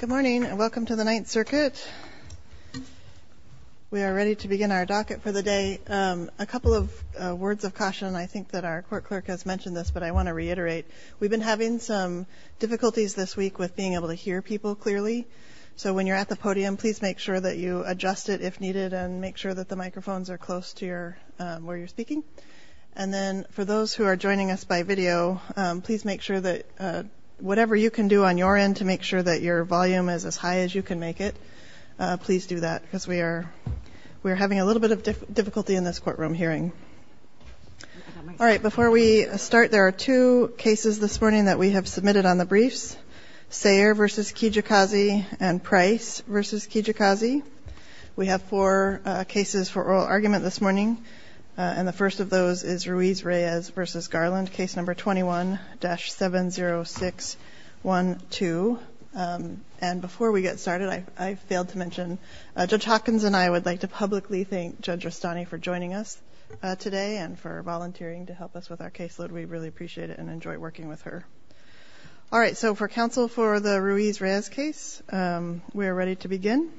Good morning and welcome to the Ninth Circuit. We are ready to begin our docket for the day. A couple of words of caution. I think that our court clerk has mentioned this but I want to reiterate. We've been having some difficulties this week with being able to hear people clearly. So when you're at the podium please make sure that you adjust it if needed and make sure that the microphones are close to your where you're speaking. And then for those who are joining us by video please make sure that whatever you can do on your end to make sure that your volume is as high as you can make it. Please do that because we are we're having a little bit of difficulty in this courtroom hearing. All right before we start there are two cases this morning that we have Kijikazi and Price v. Kijikazi. We have four cases for oral argument this morning and the first of those is Ruiz-Reyes v. Garland case number 21-70612. And before we get started I failed to mention Judge Hawkins and I would like to publicly thank Judge Rustani for joining us today and for volunteering to help us with our caseload. We really appreciate it and enjoy working with her. All right so for counsel for the Ruiz-Reyes case we're ready to begin.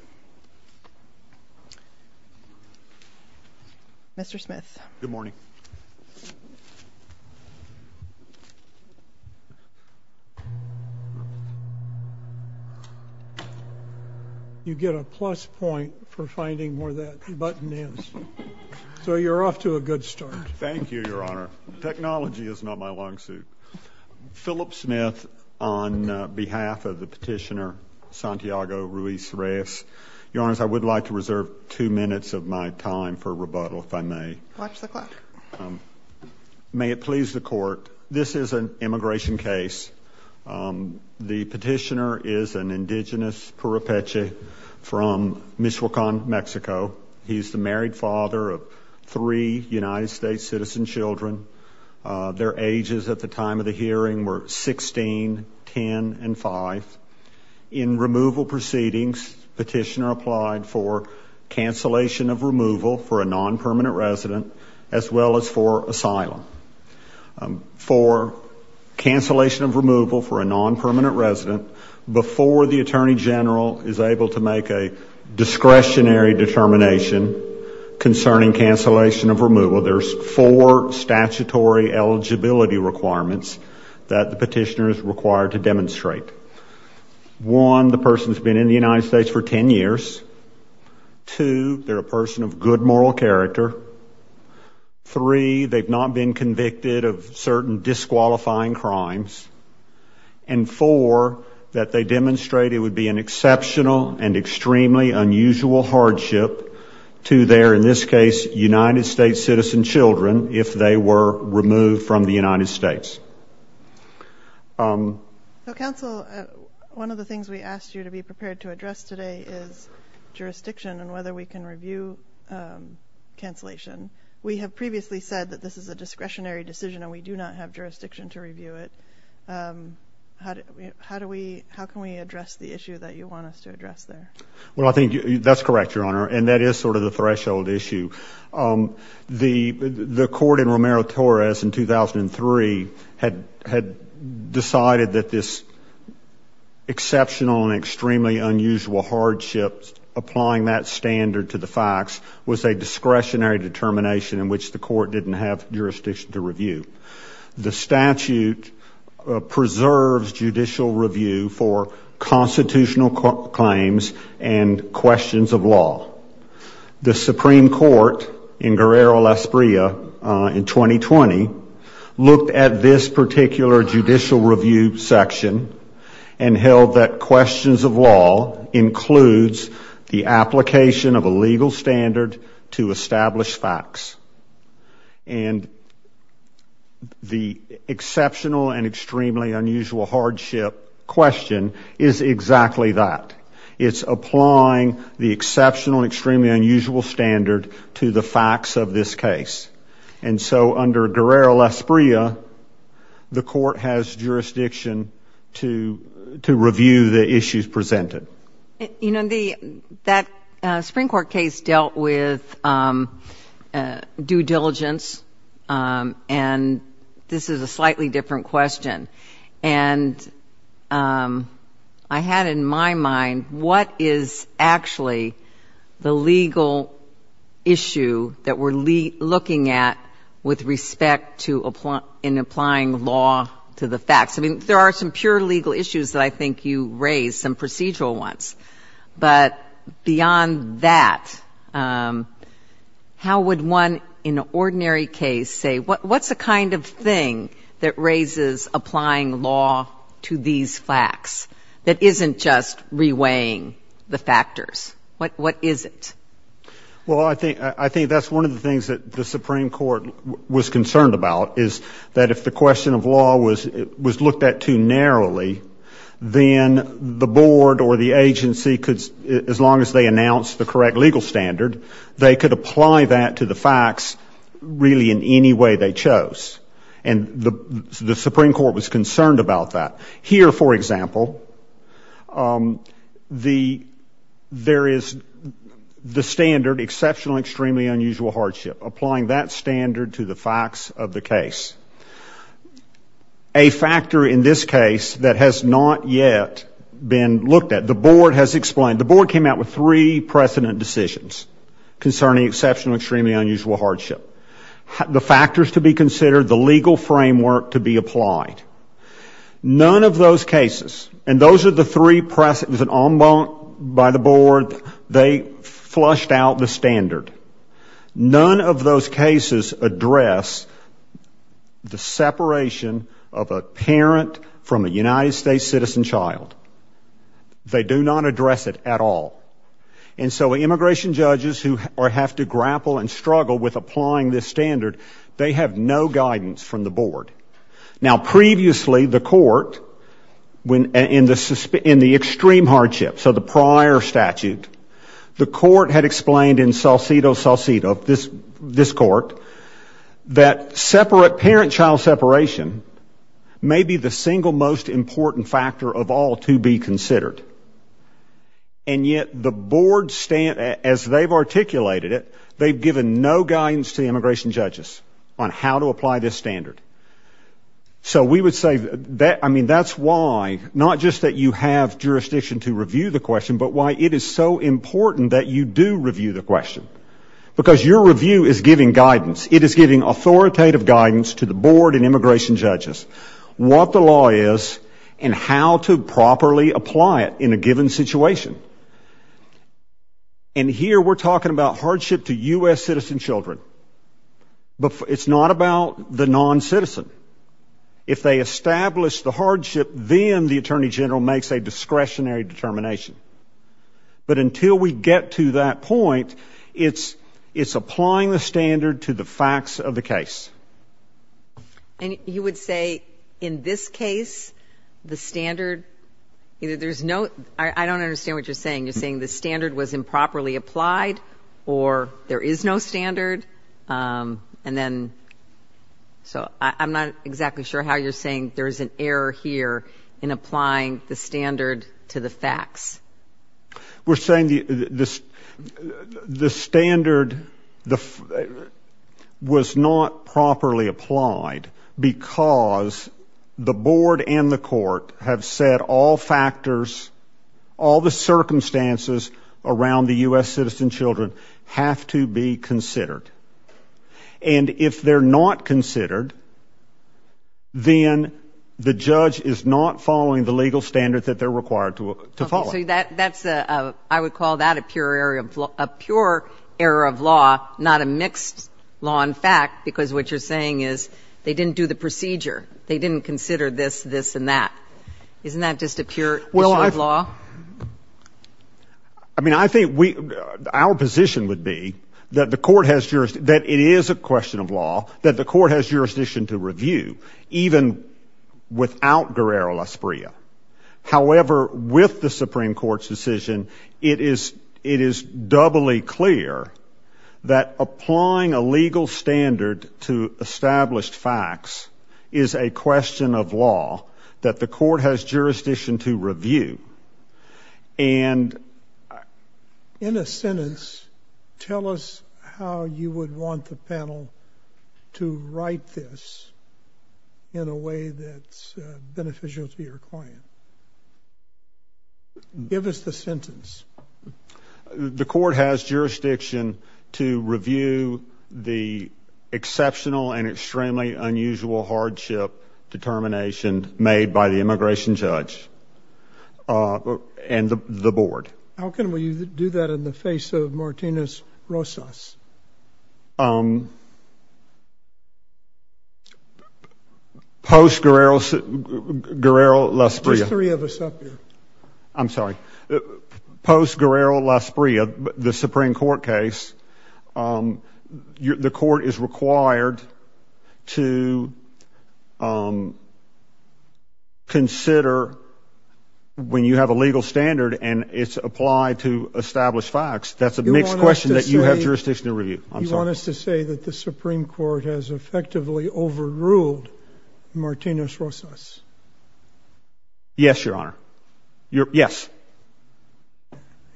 Mr. Smith. Good morning. You get a plus point for finding where that button is so you're off to a good start. Thank you. Philip Smith on behalf of the petitioner Santiago Ruiz-Reyes. Your Honors I would like to reserve two minutes of my time for rebuttal if I may. May it please the court. This is an immigration case. The petitioner is an indigenous Purupeche from Michoacan Mexico. He's the married father of three United States citizen children. Their ages at the time of the hearing were 16, 10, and 5. In removal proceedings petitioner applied for cancellation of removal for a non-permanent resident as well as for asylum. For cancellation of removal for a non-permanent resident before the Attorney General is able to make a discretionary determination concerning cancellation of removal. There's four statutory eligibility requirements that the petitioner is required to demonstrate. One, the person has been in the United States for 10 years. Two, they're a person of good moral character. Three, they've not been convicted of certain disqualifying crimes. And four, that they demonstrate it would be an exceptional and extremely unusual hardship to their in this state citizen children if they were removed from the United States. So counsel, one of the things we asked you to be prepared to address today is jurisdiction and whether we can review cancellation. We have previously said that this is a discretionary decision and we do not have jurisdiction to review it. How do we, how can we address the issue that you want us to address there? Well, I think that's correct, Your Honor, and that is sort of the threshold issue. The court in Romero-Torres in 2003 had decided that this exceptional and extremely unusual hardship applying that standard to the facts was a discretionary determination in which the court didn't have jurisdiction to review. The statute preserves judicial review for constitutional claims and questions of law. The Supreme Court in Guerrero-Las Bria in 2020 looked at this particular judicial review section and held that questions of law includes the application of a legal standard to establish facts. And the exceptional and extremely unusual hardship question is exactly that. It's applying the exceptional and extremely unusual standard to the facts of this case. And so under Guerrero-Las Bria, the court has jurisdiction to review the issues presented. You know, the, that Supreme Court case dealt with due diligence and this is a slightly different question. And I had in my mind, what is actually the legal issue that we're looking at with respect to, in applying law to the facts? I mean, there are some pure legal issues that I think you raised, some procedural ones. But beyond that, how would one in an ordinary case say, what's the kind of thing that raises applying law to these facts that isn't just reweighing the factors? What is it? Well, I think that's one of the things that the Supreme Court was concerned about, is that if the question of law was looked at too narrowly, then the board or the agency could, as long as they announced the correct legal standard, they could apply that to the facts really in any way they chose. And the Supreme Court was concerned about that. Here, for example, the, there is the standard, exceptional and extremely unusual hardship, applying that standard to the facts of the case. A factor in this case that has not yet been looked at, the board has explained, the board came out with three precedent decisions concerning exceptional and extremely unusual hardship. The factors to be considered, the legal framework to be applied. None of those cases, and those are the three, it was an en banc by the board, they flushed out the standard. None of those cases address the separation of a parent from a United States citizen child. They do not address it at all. And so immigration judges who have to grapple and struggle with applying this standard, they have no guidance from the board. Now previously, the court, in the extreme hardship, so the prior statute, the court had explained in salsito salsito, this court, that separate parent-child separation may be the single most important factor of all to be considered. And yet the board, as they've articulated it, they've given no guidance to the immigration judges on how to apply this standard. So we would say that, I mean, that's why, not just that you have jurisdiction to review the question, but why it is so important that you do review the question. Because your review is giving guidance. It is giving authoritative guidance to the board and immigration judges what the law is and how to properly apply it in a given situation. And here we're talking about hardship to U.S. citizen children. It's not about the non-citizen. If they establish the hardship, then the attorney general makes a discretionary determination. But until we get to that point, it's applying the standard to the facts of the case. And you would say, in this case, the standard, there's no, I don't understand what you're saying. You're saying the standard was improperly applied, or there is no standard, and then, so I'm not exactly sure how you're saying there's an error here in applying the standard to the facts. We're saying the standard was not properly applied because the board and the court have said all factors, all the circumstances around the U.S. citizen children have to be considered. And if they're not considered, then the judge is not following the legal standard that they're required to follow. I would call that a pure error of law, not a mixed law and fact, because what you're saying is they didn't do the procedure. They didn't consider this, this, and that. Isn't that just a pure issue of law? I mean, I think we, our position would be that the court has, that it is a question of law, that the court has jurisdiction to review, even without Guerrero-Lasprilla. However, with the Supreme Court's decision, it is doubly clear that applying a legal standard to established facts is a question of law, that the court has jurisdiction to review. And in a sentence, tell us how you would want the panel to write this in a way that's beneficial to your client. Give us the sentence. The court has jurisdiction to review the exceptional and extremely unusual hardship determination made by the immigration judge and the board. How can we do that in the face of Martinez-Rosas? Post-Guerrero-Lasprilla. Just three of us up here. I'm sorry. Post-Guerrero-Lasprilla, the Supreme Court case, the court is required to review and consider, when you have a legal standard and it's applied to established facts, that's a mixed question that you have jurisdiction to review. I'm sorry. You want us to say that the Supreme Court has effectively overruled Martinez-Rosas? Yes, Your Honor. Yes.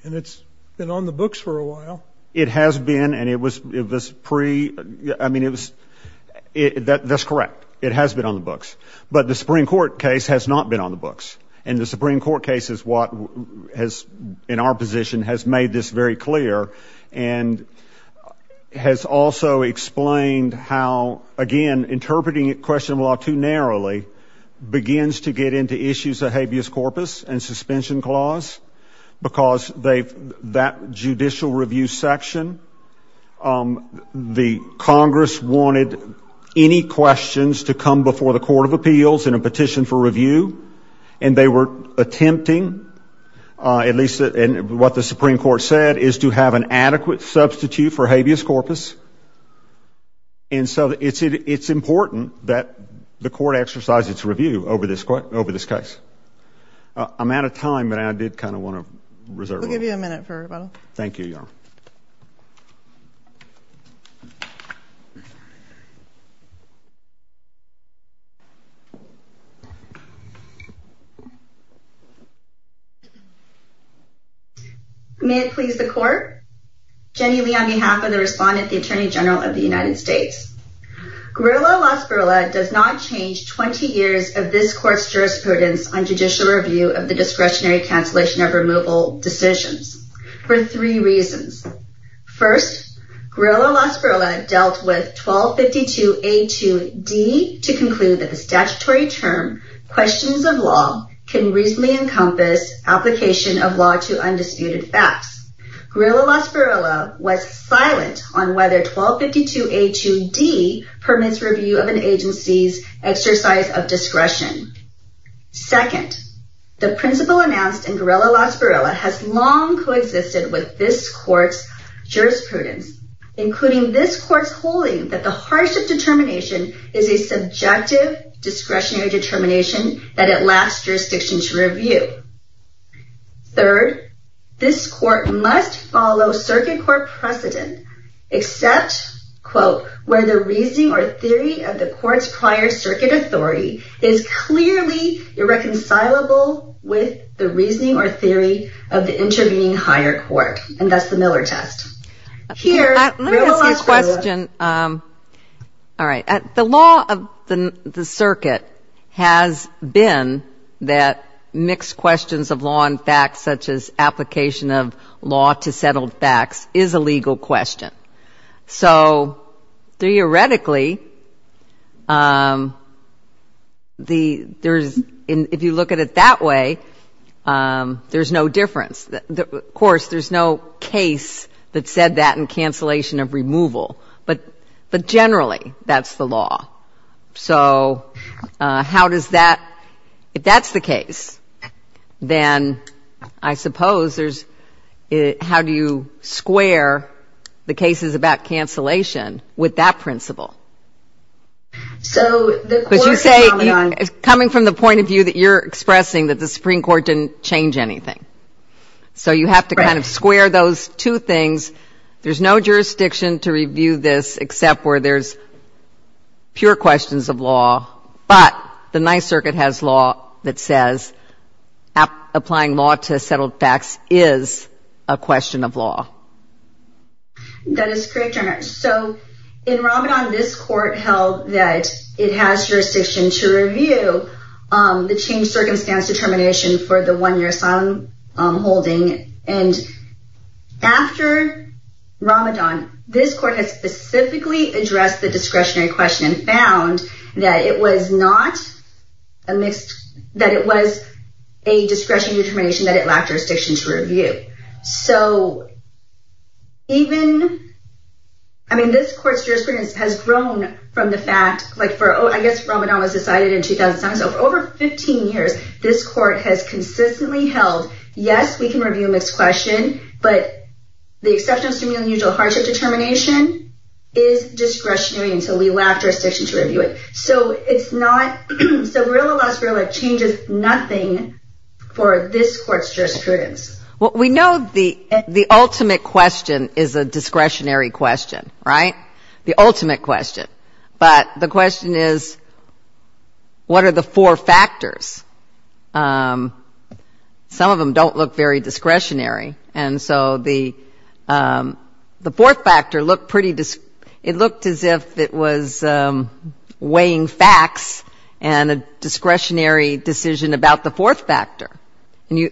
And it's been on the books for a while. It has been, and it was pre, I mean, it was, that's correct. It has been on the books. But the Supreme Court case has not been on the books. And the Supreme Court case is what has, in our position, has made this very clear and has also explained how, again, interpreting a question of law too narrowly begins to get into issues of habeas corpus and suspension clause, because that judicial review section, the Congress wanted any questions to come before the Court of Appeals in a petition for review, and they were attempting, at least what the Supreme Court said, is to have an adequate substitute for habeas corpus. And so it's important that the court exercise its review over this case. I'm out of time, but I did kind of want to reserve it. We'll give you a minute for rebuttal. Thank you, Your Honor. May it please the Court. Jenny Lee on behalf of the Respondent, the Attorney General of the United States. Grillo-Lasparilla does not change 20 years of this court's jurisprudence on judicial review of the discretionary cancellation of removal decisions for three reasons. First, Grillo-Lasparilla dealt with 1252A2D to conclude that the statutory term, questions of law, can reasonably encompass application of law to undisputed facts. Grillo-Lasparilla was silent on whether 1252A2D permits review of an agency's exercise of discretion. Second, the principle announced in Grillo-Lasparilla has long coexisted with this court's jurisprudence, including this court's holding that the hardship determination is a subjective discretionary determination that it lasts jurisdiction to review. Third, this court must follow circuit court precedent except where the reasoning or theory of the court's prior circuit authority is clearly irreconcilable with the reasoning or theory of the intervening higher court. And that's the Miller test. Let me ask you a question. All right. The law of the circuit has been that mixed questions of law and facts, such as application of law to settled facts, is a legal question. So theoretically, if you look at it that way, there's no difference. Of course, there's no case that said that in cancellation of removal. But generally, that's the law. So how does that ‑‑ if that's the case, then I suppose there's how do you square the cases about cancellation with that principle? Because you say coming from the point of view that you're expressing that the Supreme Court didn't change anything. So you have to kind of square those two things. There's no jurisdiction to review this except where there's pure questions of law, but the ninth circuit has law that says applying law to settled facts is a question of law. That is correct, Your Honor. So in Ramadan, this court held that it has jurisdiction to review the change circumstance determination for the one‑year asylum holding. And after Ramadan, this court has specifically addressed the discretionary question and found that it was not a mixed ‑‑ that it was a discretionary determination that it lacked jurisdiction to review. So even ‑‑ I mean, this court's jurisprudence has grown from the fact like for, I guess, Ramadan was decided in 2007. So for over 15 years, this court has consistently held, yes, we can review a mixed question, but the exception to the usual hardship determination is discretionary and so we lack jurisdiction to review it. So it's not ‑‑ so Verilla v. Verilla changes nothing for this court's jurisprudence. Well, we know the ultimate question is a discretionary question, right? The ultimate question. But the question is, what are the four factors? Some of them don't look very discretionary. And so the fourth factor looked pretty ‑‑ it looked as if it was weighing facts and a discretionary decision about the fourth factor.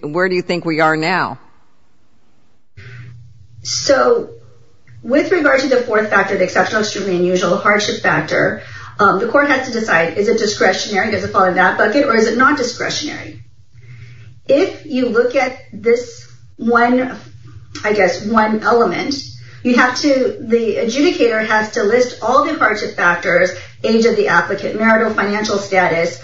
Where do you think we are now? So with regard to the fourth factor, the exceptional, extremely unusual hardship factor, the court has to decide is it discretionary, does it fall in that bucket, or is it not discretionary? If you look at this one, I guess, one element, you have to ‑‑ the adjudicator has to list all the hardship factors, age of the applicant, marital financial status,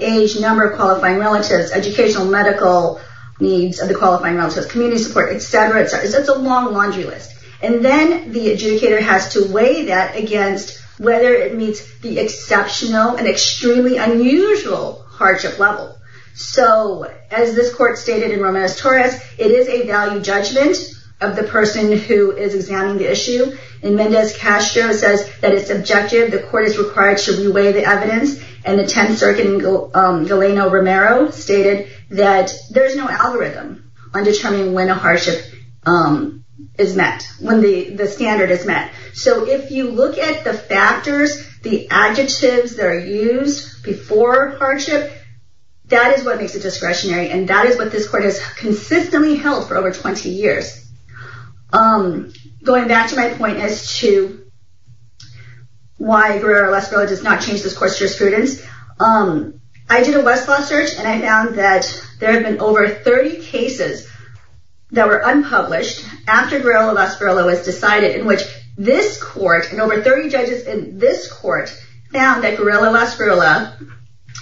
age, number of qualifying relatives, educational medical needs of the qualifying relatives, community support, et cetera. It's a long laundry list. And then the adjudicator has to weigh that against whether it meets the exceptional and extremely unusual hardship level. So as this court stated in Romanes Torres, it is a value judgment of the person who is examining the issue. And Mendez Castro says that it's subjective. The court is required to weigh the evidence. And the Tenth Circuit in Galeno Romero stated that there's no algorithm on determining when a hardship is met, when the standard is met. So if you look at the factors, the adjectives that are used before hardship, that is what makes it discretionary. And that is what this court has consistently held for over 20 years. Going back to my point as to why Guerrero-Lesco does not change this course for students, I did a Westlaw search and I found that there have been over 30 cases that were unpublished after Guerrero-Lesco was decided in which this court and over 30 judges in this court found that Guerrero-Lesco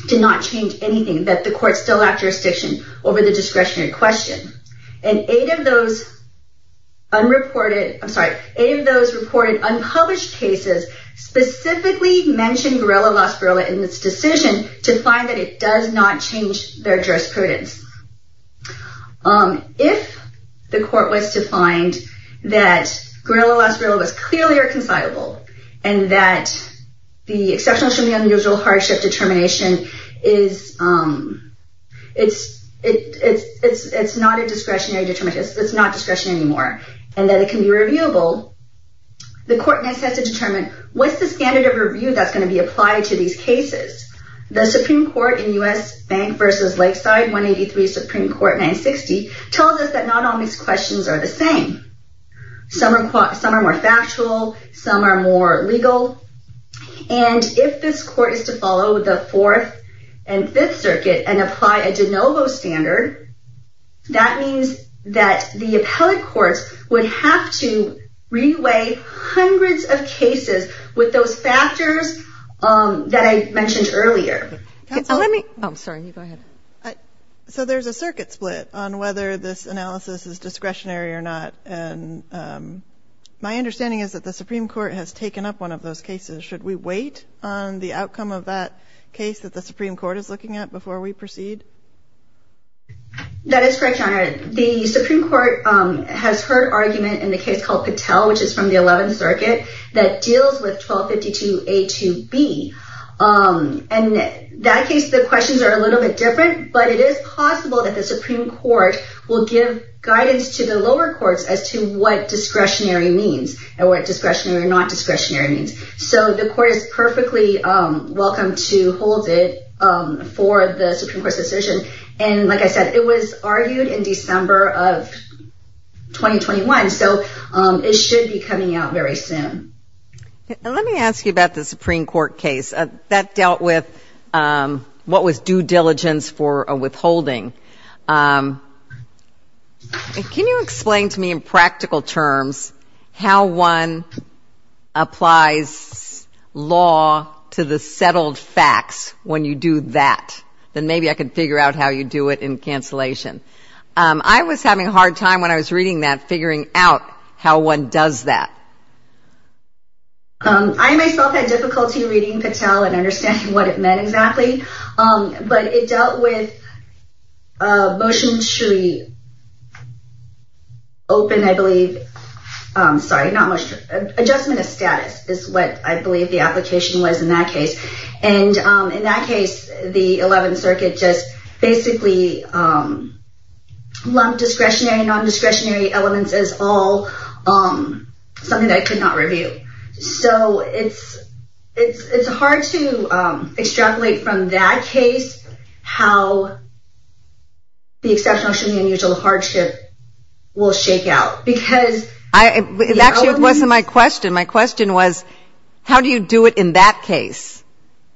did not change anything, that the court still lacked jurisdiction over the discretionary question. And eight of those reported unpublished cases specifically mentioned Guerrero-Lesco in this decision to find that it does not change their jurisprudence. If the court was to find that Guerrero-Lesco was clearly irreconcilable and that the exception of the unusual hardship determination is, it's not a discretionary determination. It's not discretion anymore. And that it can be reviewable. The court next has to determine what's the standard of review that's going to be applied to these cases. The Supreme Court in U.S. Bank v. Lakeside, 183 Supreme Court 960, tells us that not all these questions are the same. Some are more factual, some are more legal. And if this court is to follow the Fourth and Fifth Circuit and apply a de novo standard, that means that the appellate courts would have to re-weigh hundreds of cases with those factors that I mentioned earlier. So there's a circuit split on whether this analysis is discretionary or not. And my understanding is that the Supreme Court has taken up one of those cases. Should we wait on the outcome of that case that the Supreme Court is looking at before we proceed? That is correct, Your Honor. The Supreme Court has heard argument in the case called Patel, which is from the 11th Circuit, that deals with 1252A2B. And in that case, the questions are a little bit different, but it is possible that the Supreme Court will give guidance to the lower courts as to what discretionary means and what discretionary or not discretionary means. So the Court is perfectly welcome to hold it for the Supreme Court's decision. And like I said, it was argued in December of 2021, so it should be coming out very soon. Let me ask you about the Supreme Court case. That dealt with what was due diligence for a withholding. Can you explain to me in practical terms how one applies law to the settled facts when you do that? Then maybe I can figure out how you do it in cancellation. I was having a hard time when I was reading that, figuring out how one does that. I myself had difficulty reading Patel and understanding what it meant exactly. But it dealt with a motion to open, I believe. Sorry, not motion. Adjustment of status is what I believe the application was in that case. And in that case, the 11th Circuit just basically lumped discretionary and non-discretionary elements as all something that I could not review. So it's hard to extrapolate from that case how the exceptional, unusual, and hardship will shake out. Actually, it wasn't my question. My question was, how do you do it in that case?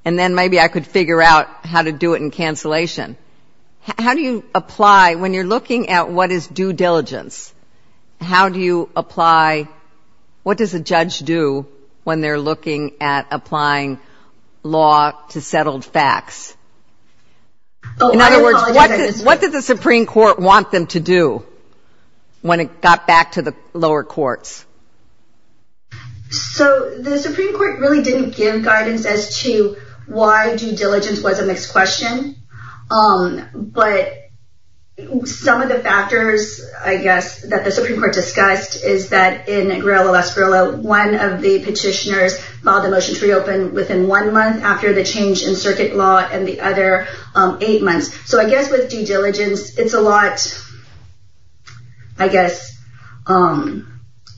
And then maybe I could figure out how to do it in cancellation. How do you apply, when you're looking at what is due diligence, how do you apply, what does a judge do when they're looking at applying law to settled facts? In other words, what did the Supreme Court want them to do when it got back to the lower courts? So the Supreme Court really didn't give guidance as to why due diligence was a mixed question. But some of the factors, I guess, that the Supreme Court discussed is that in Grillo-Lasgrilla, one of the other eight months. So I guess with due diligence, it's a lot, I guess,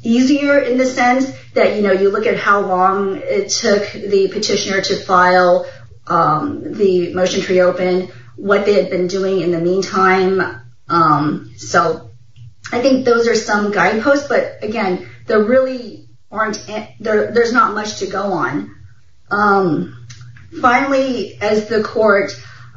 easier in the sense that, you know, you look at how long it took the petitioner to file the motion to reopen, what they had been doing in the meantime. So I think those are some guideposts. But again, there really aren't, there's not much to go on. Finally, as the court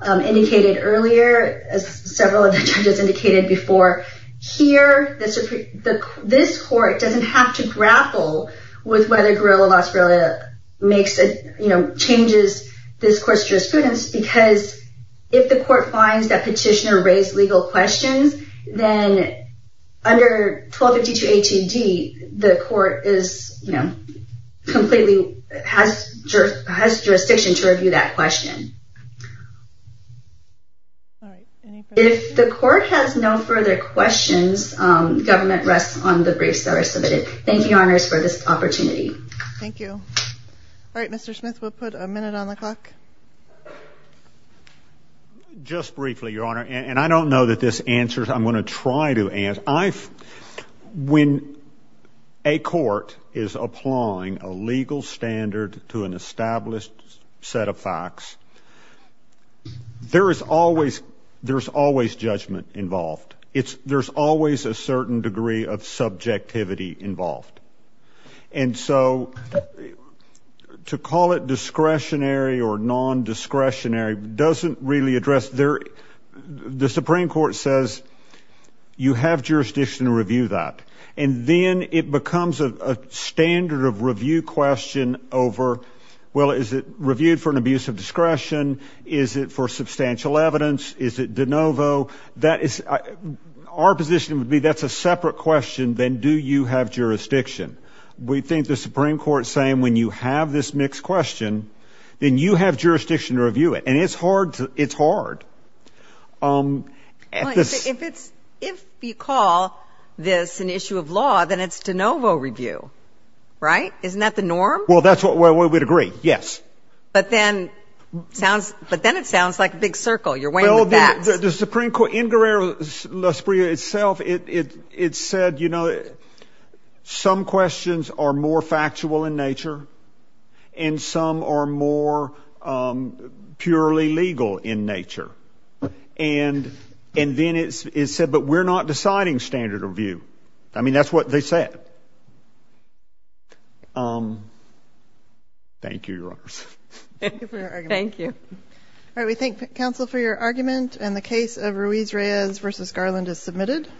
indicated earlier, as several of the judges indicated before, here, this court doesn't have to grapple with whether Grillo-Lasgrilla makes, you know, changes this court's jurisprudence because if the court finds that petitioner raised legal questions, then under 1252 A.T.D., the court is, you know, completely, has jurisdiction to review that question. If the court has no further questions, government rests on the briefs that are submitted. Thank you, Your Honors, for this opportunity. Thank you. All right, Mr. Smith, we'll put a minute on the clock. Just briefly, Your Honor, and I don't know that this answers, I'm going to try to answer. When a court is applying a legal standard to an established set of facts, there is always, there's always judgment involved. There's always a certain degree of subjectivity involved. And so to call it discretionary or nondiscretionary doesn't really address, the Supreme Court says, you have jurisdiction to review that. And then it becomes a standard of review question over, well, is it reviewed for an abuse of discretion? Is it for substantial evidence? Is it de novo? Our position would be that's a separate question than do you have jurisdiction? We think the Supreme Court is saying when you have this mixed question, then you have jurisdiction to review it. And it's hard. If you call this an issue of law, then it's de novo review, right? Isn't that the norm? Well, we would agree, yes. But then it sounds like a big circle. You're weighing the facts. Well, the Supreme Court, in Guerrero-Lasprilla itself, it said, you know, some questions are more factual in nature and some are more purely legal in nature. And then it said, but we're not deciding standard of view. I mean, that's what they said. Thank you, Your Honors. Thank you.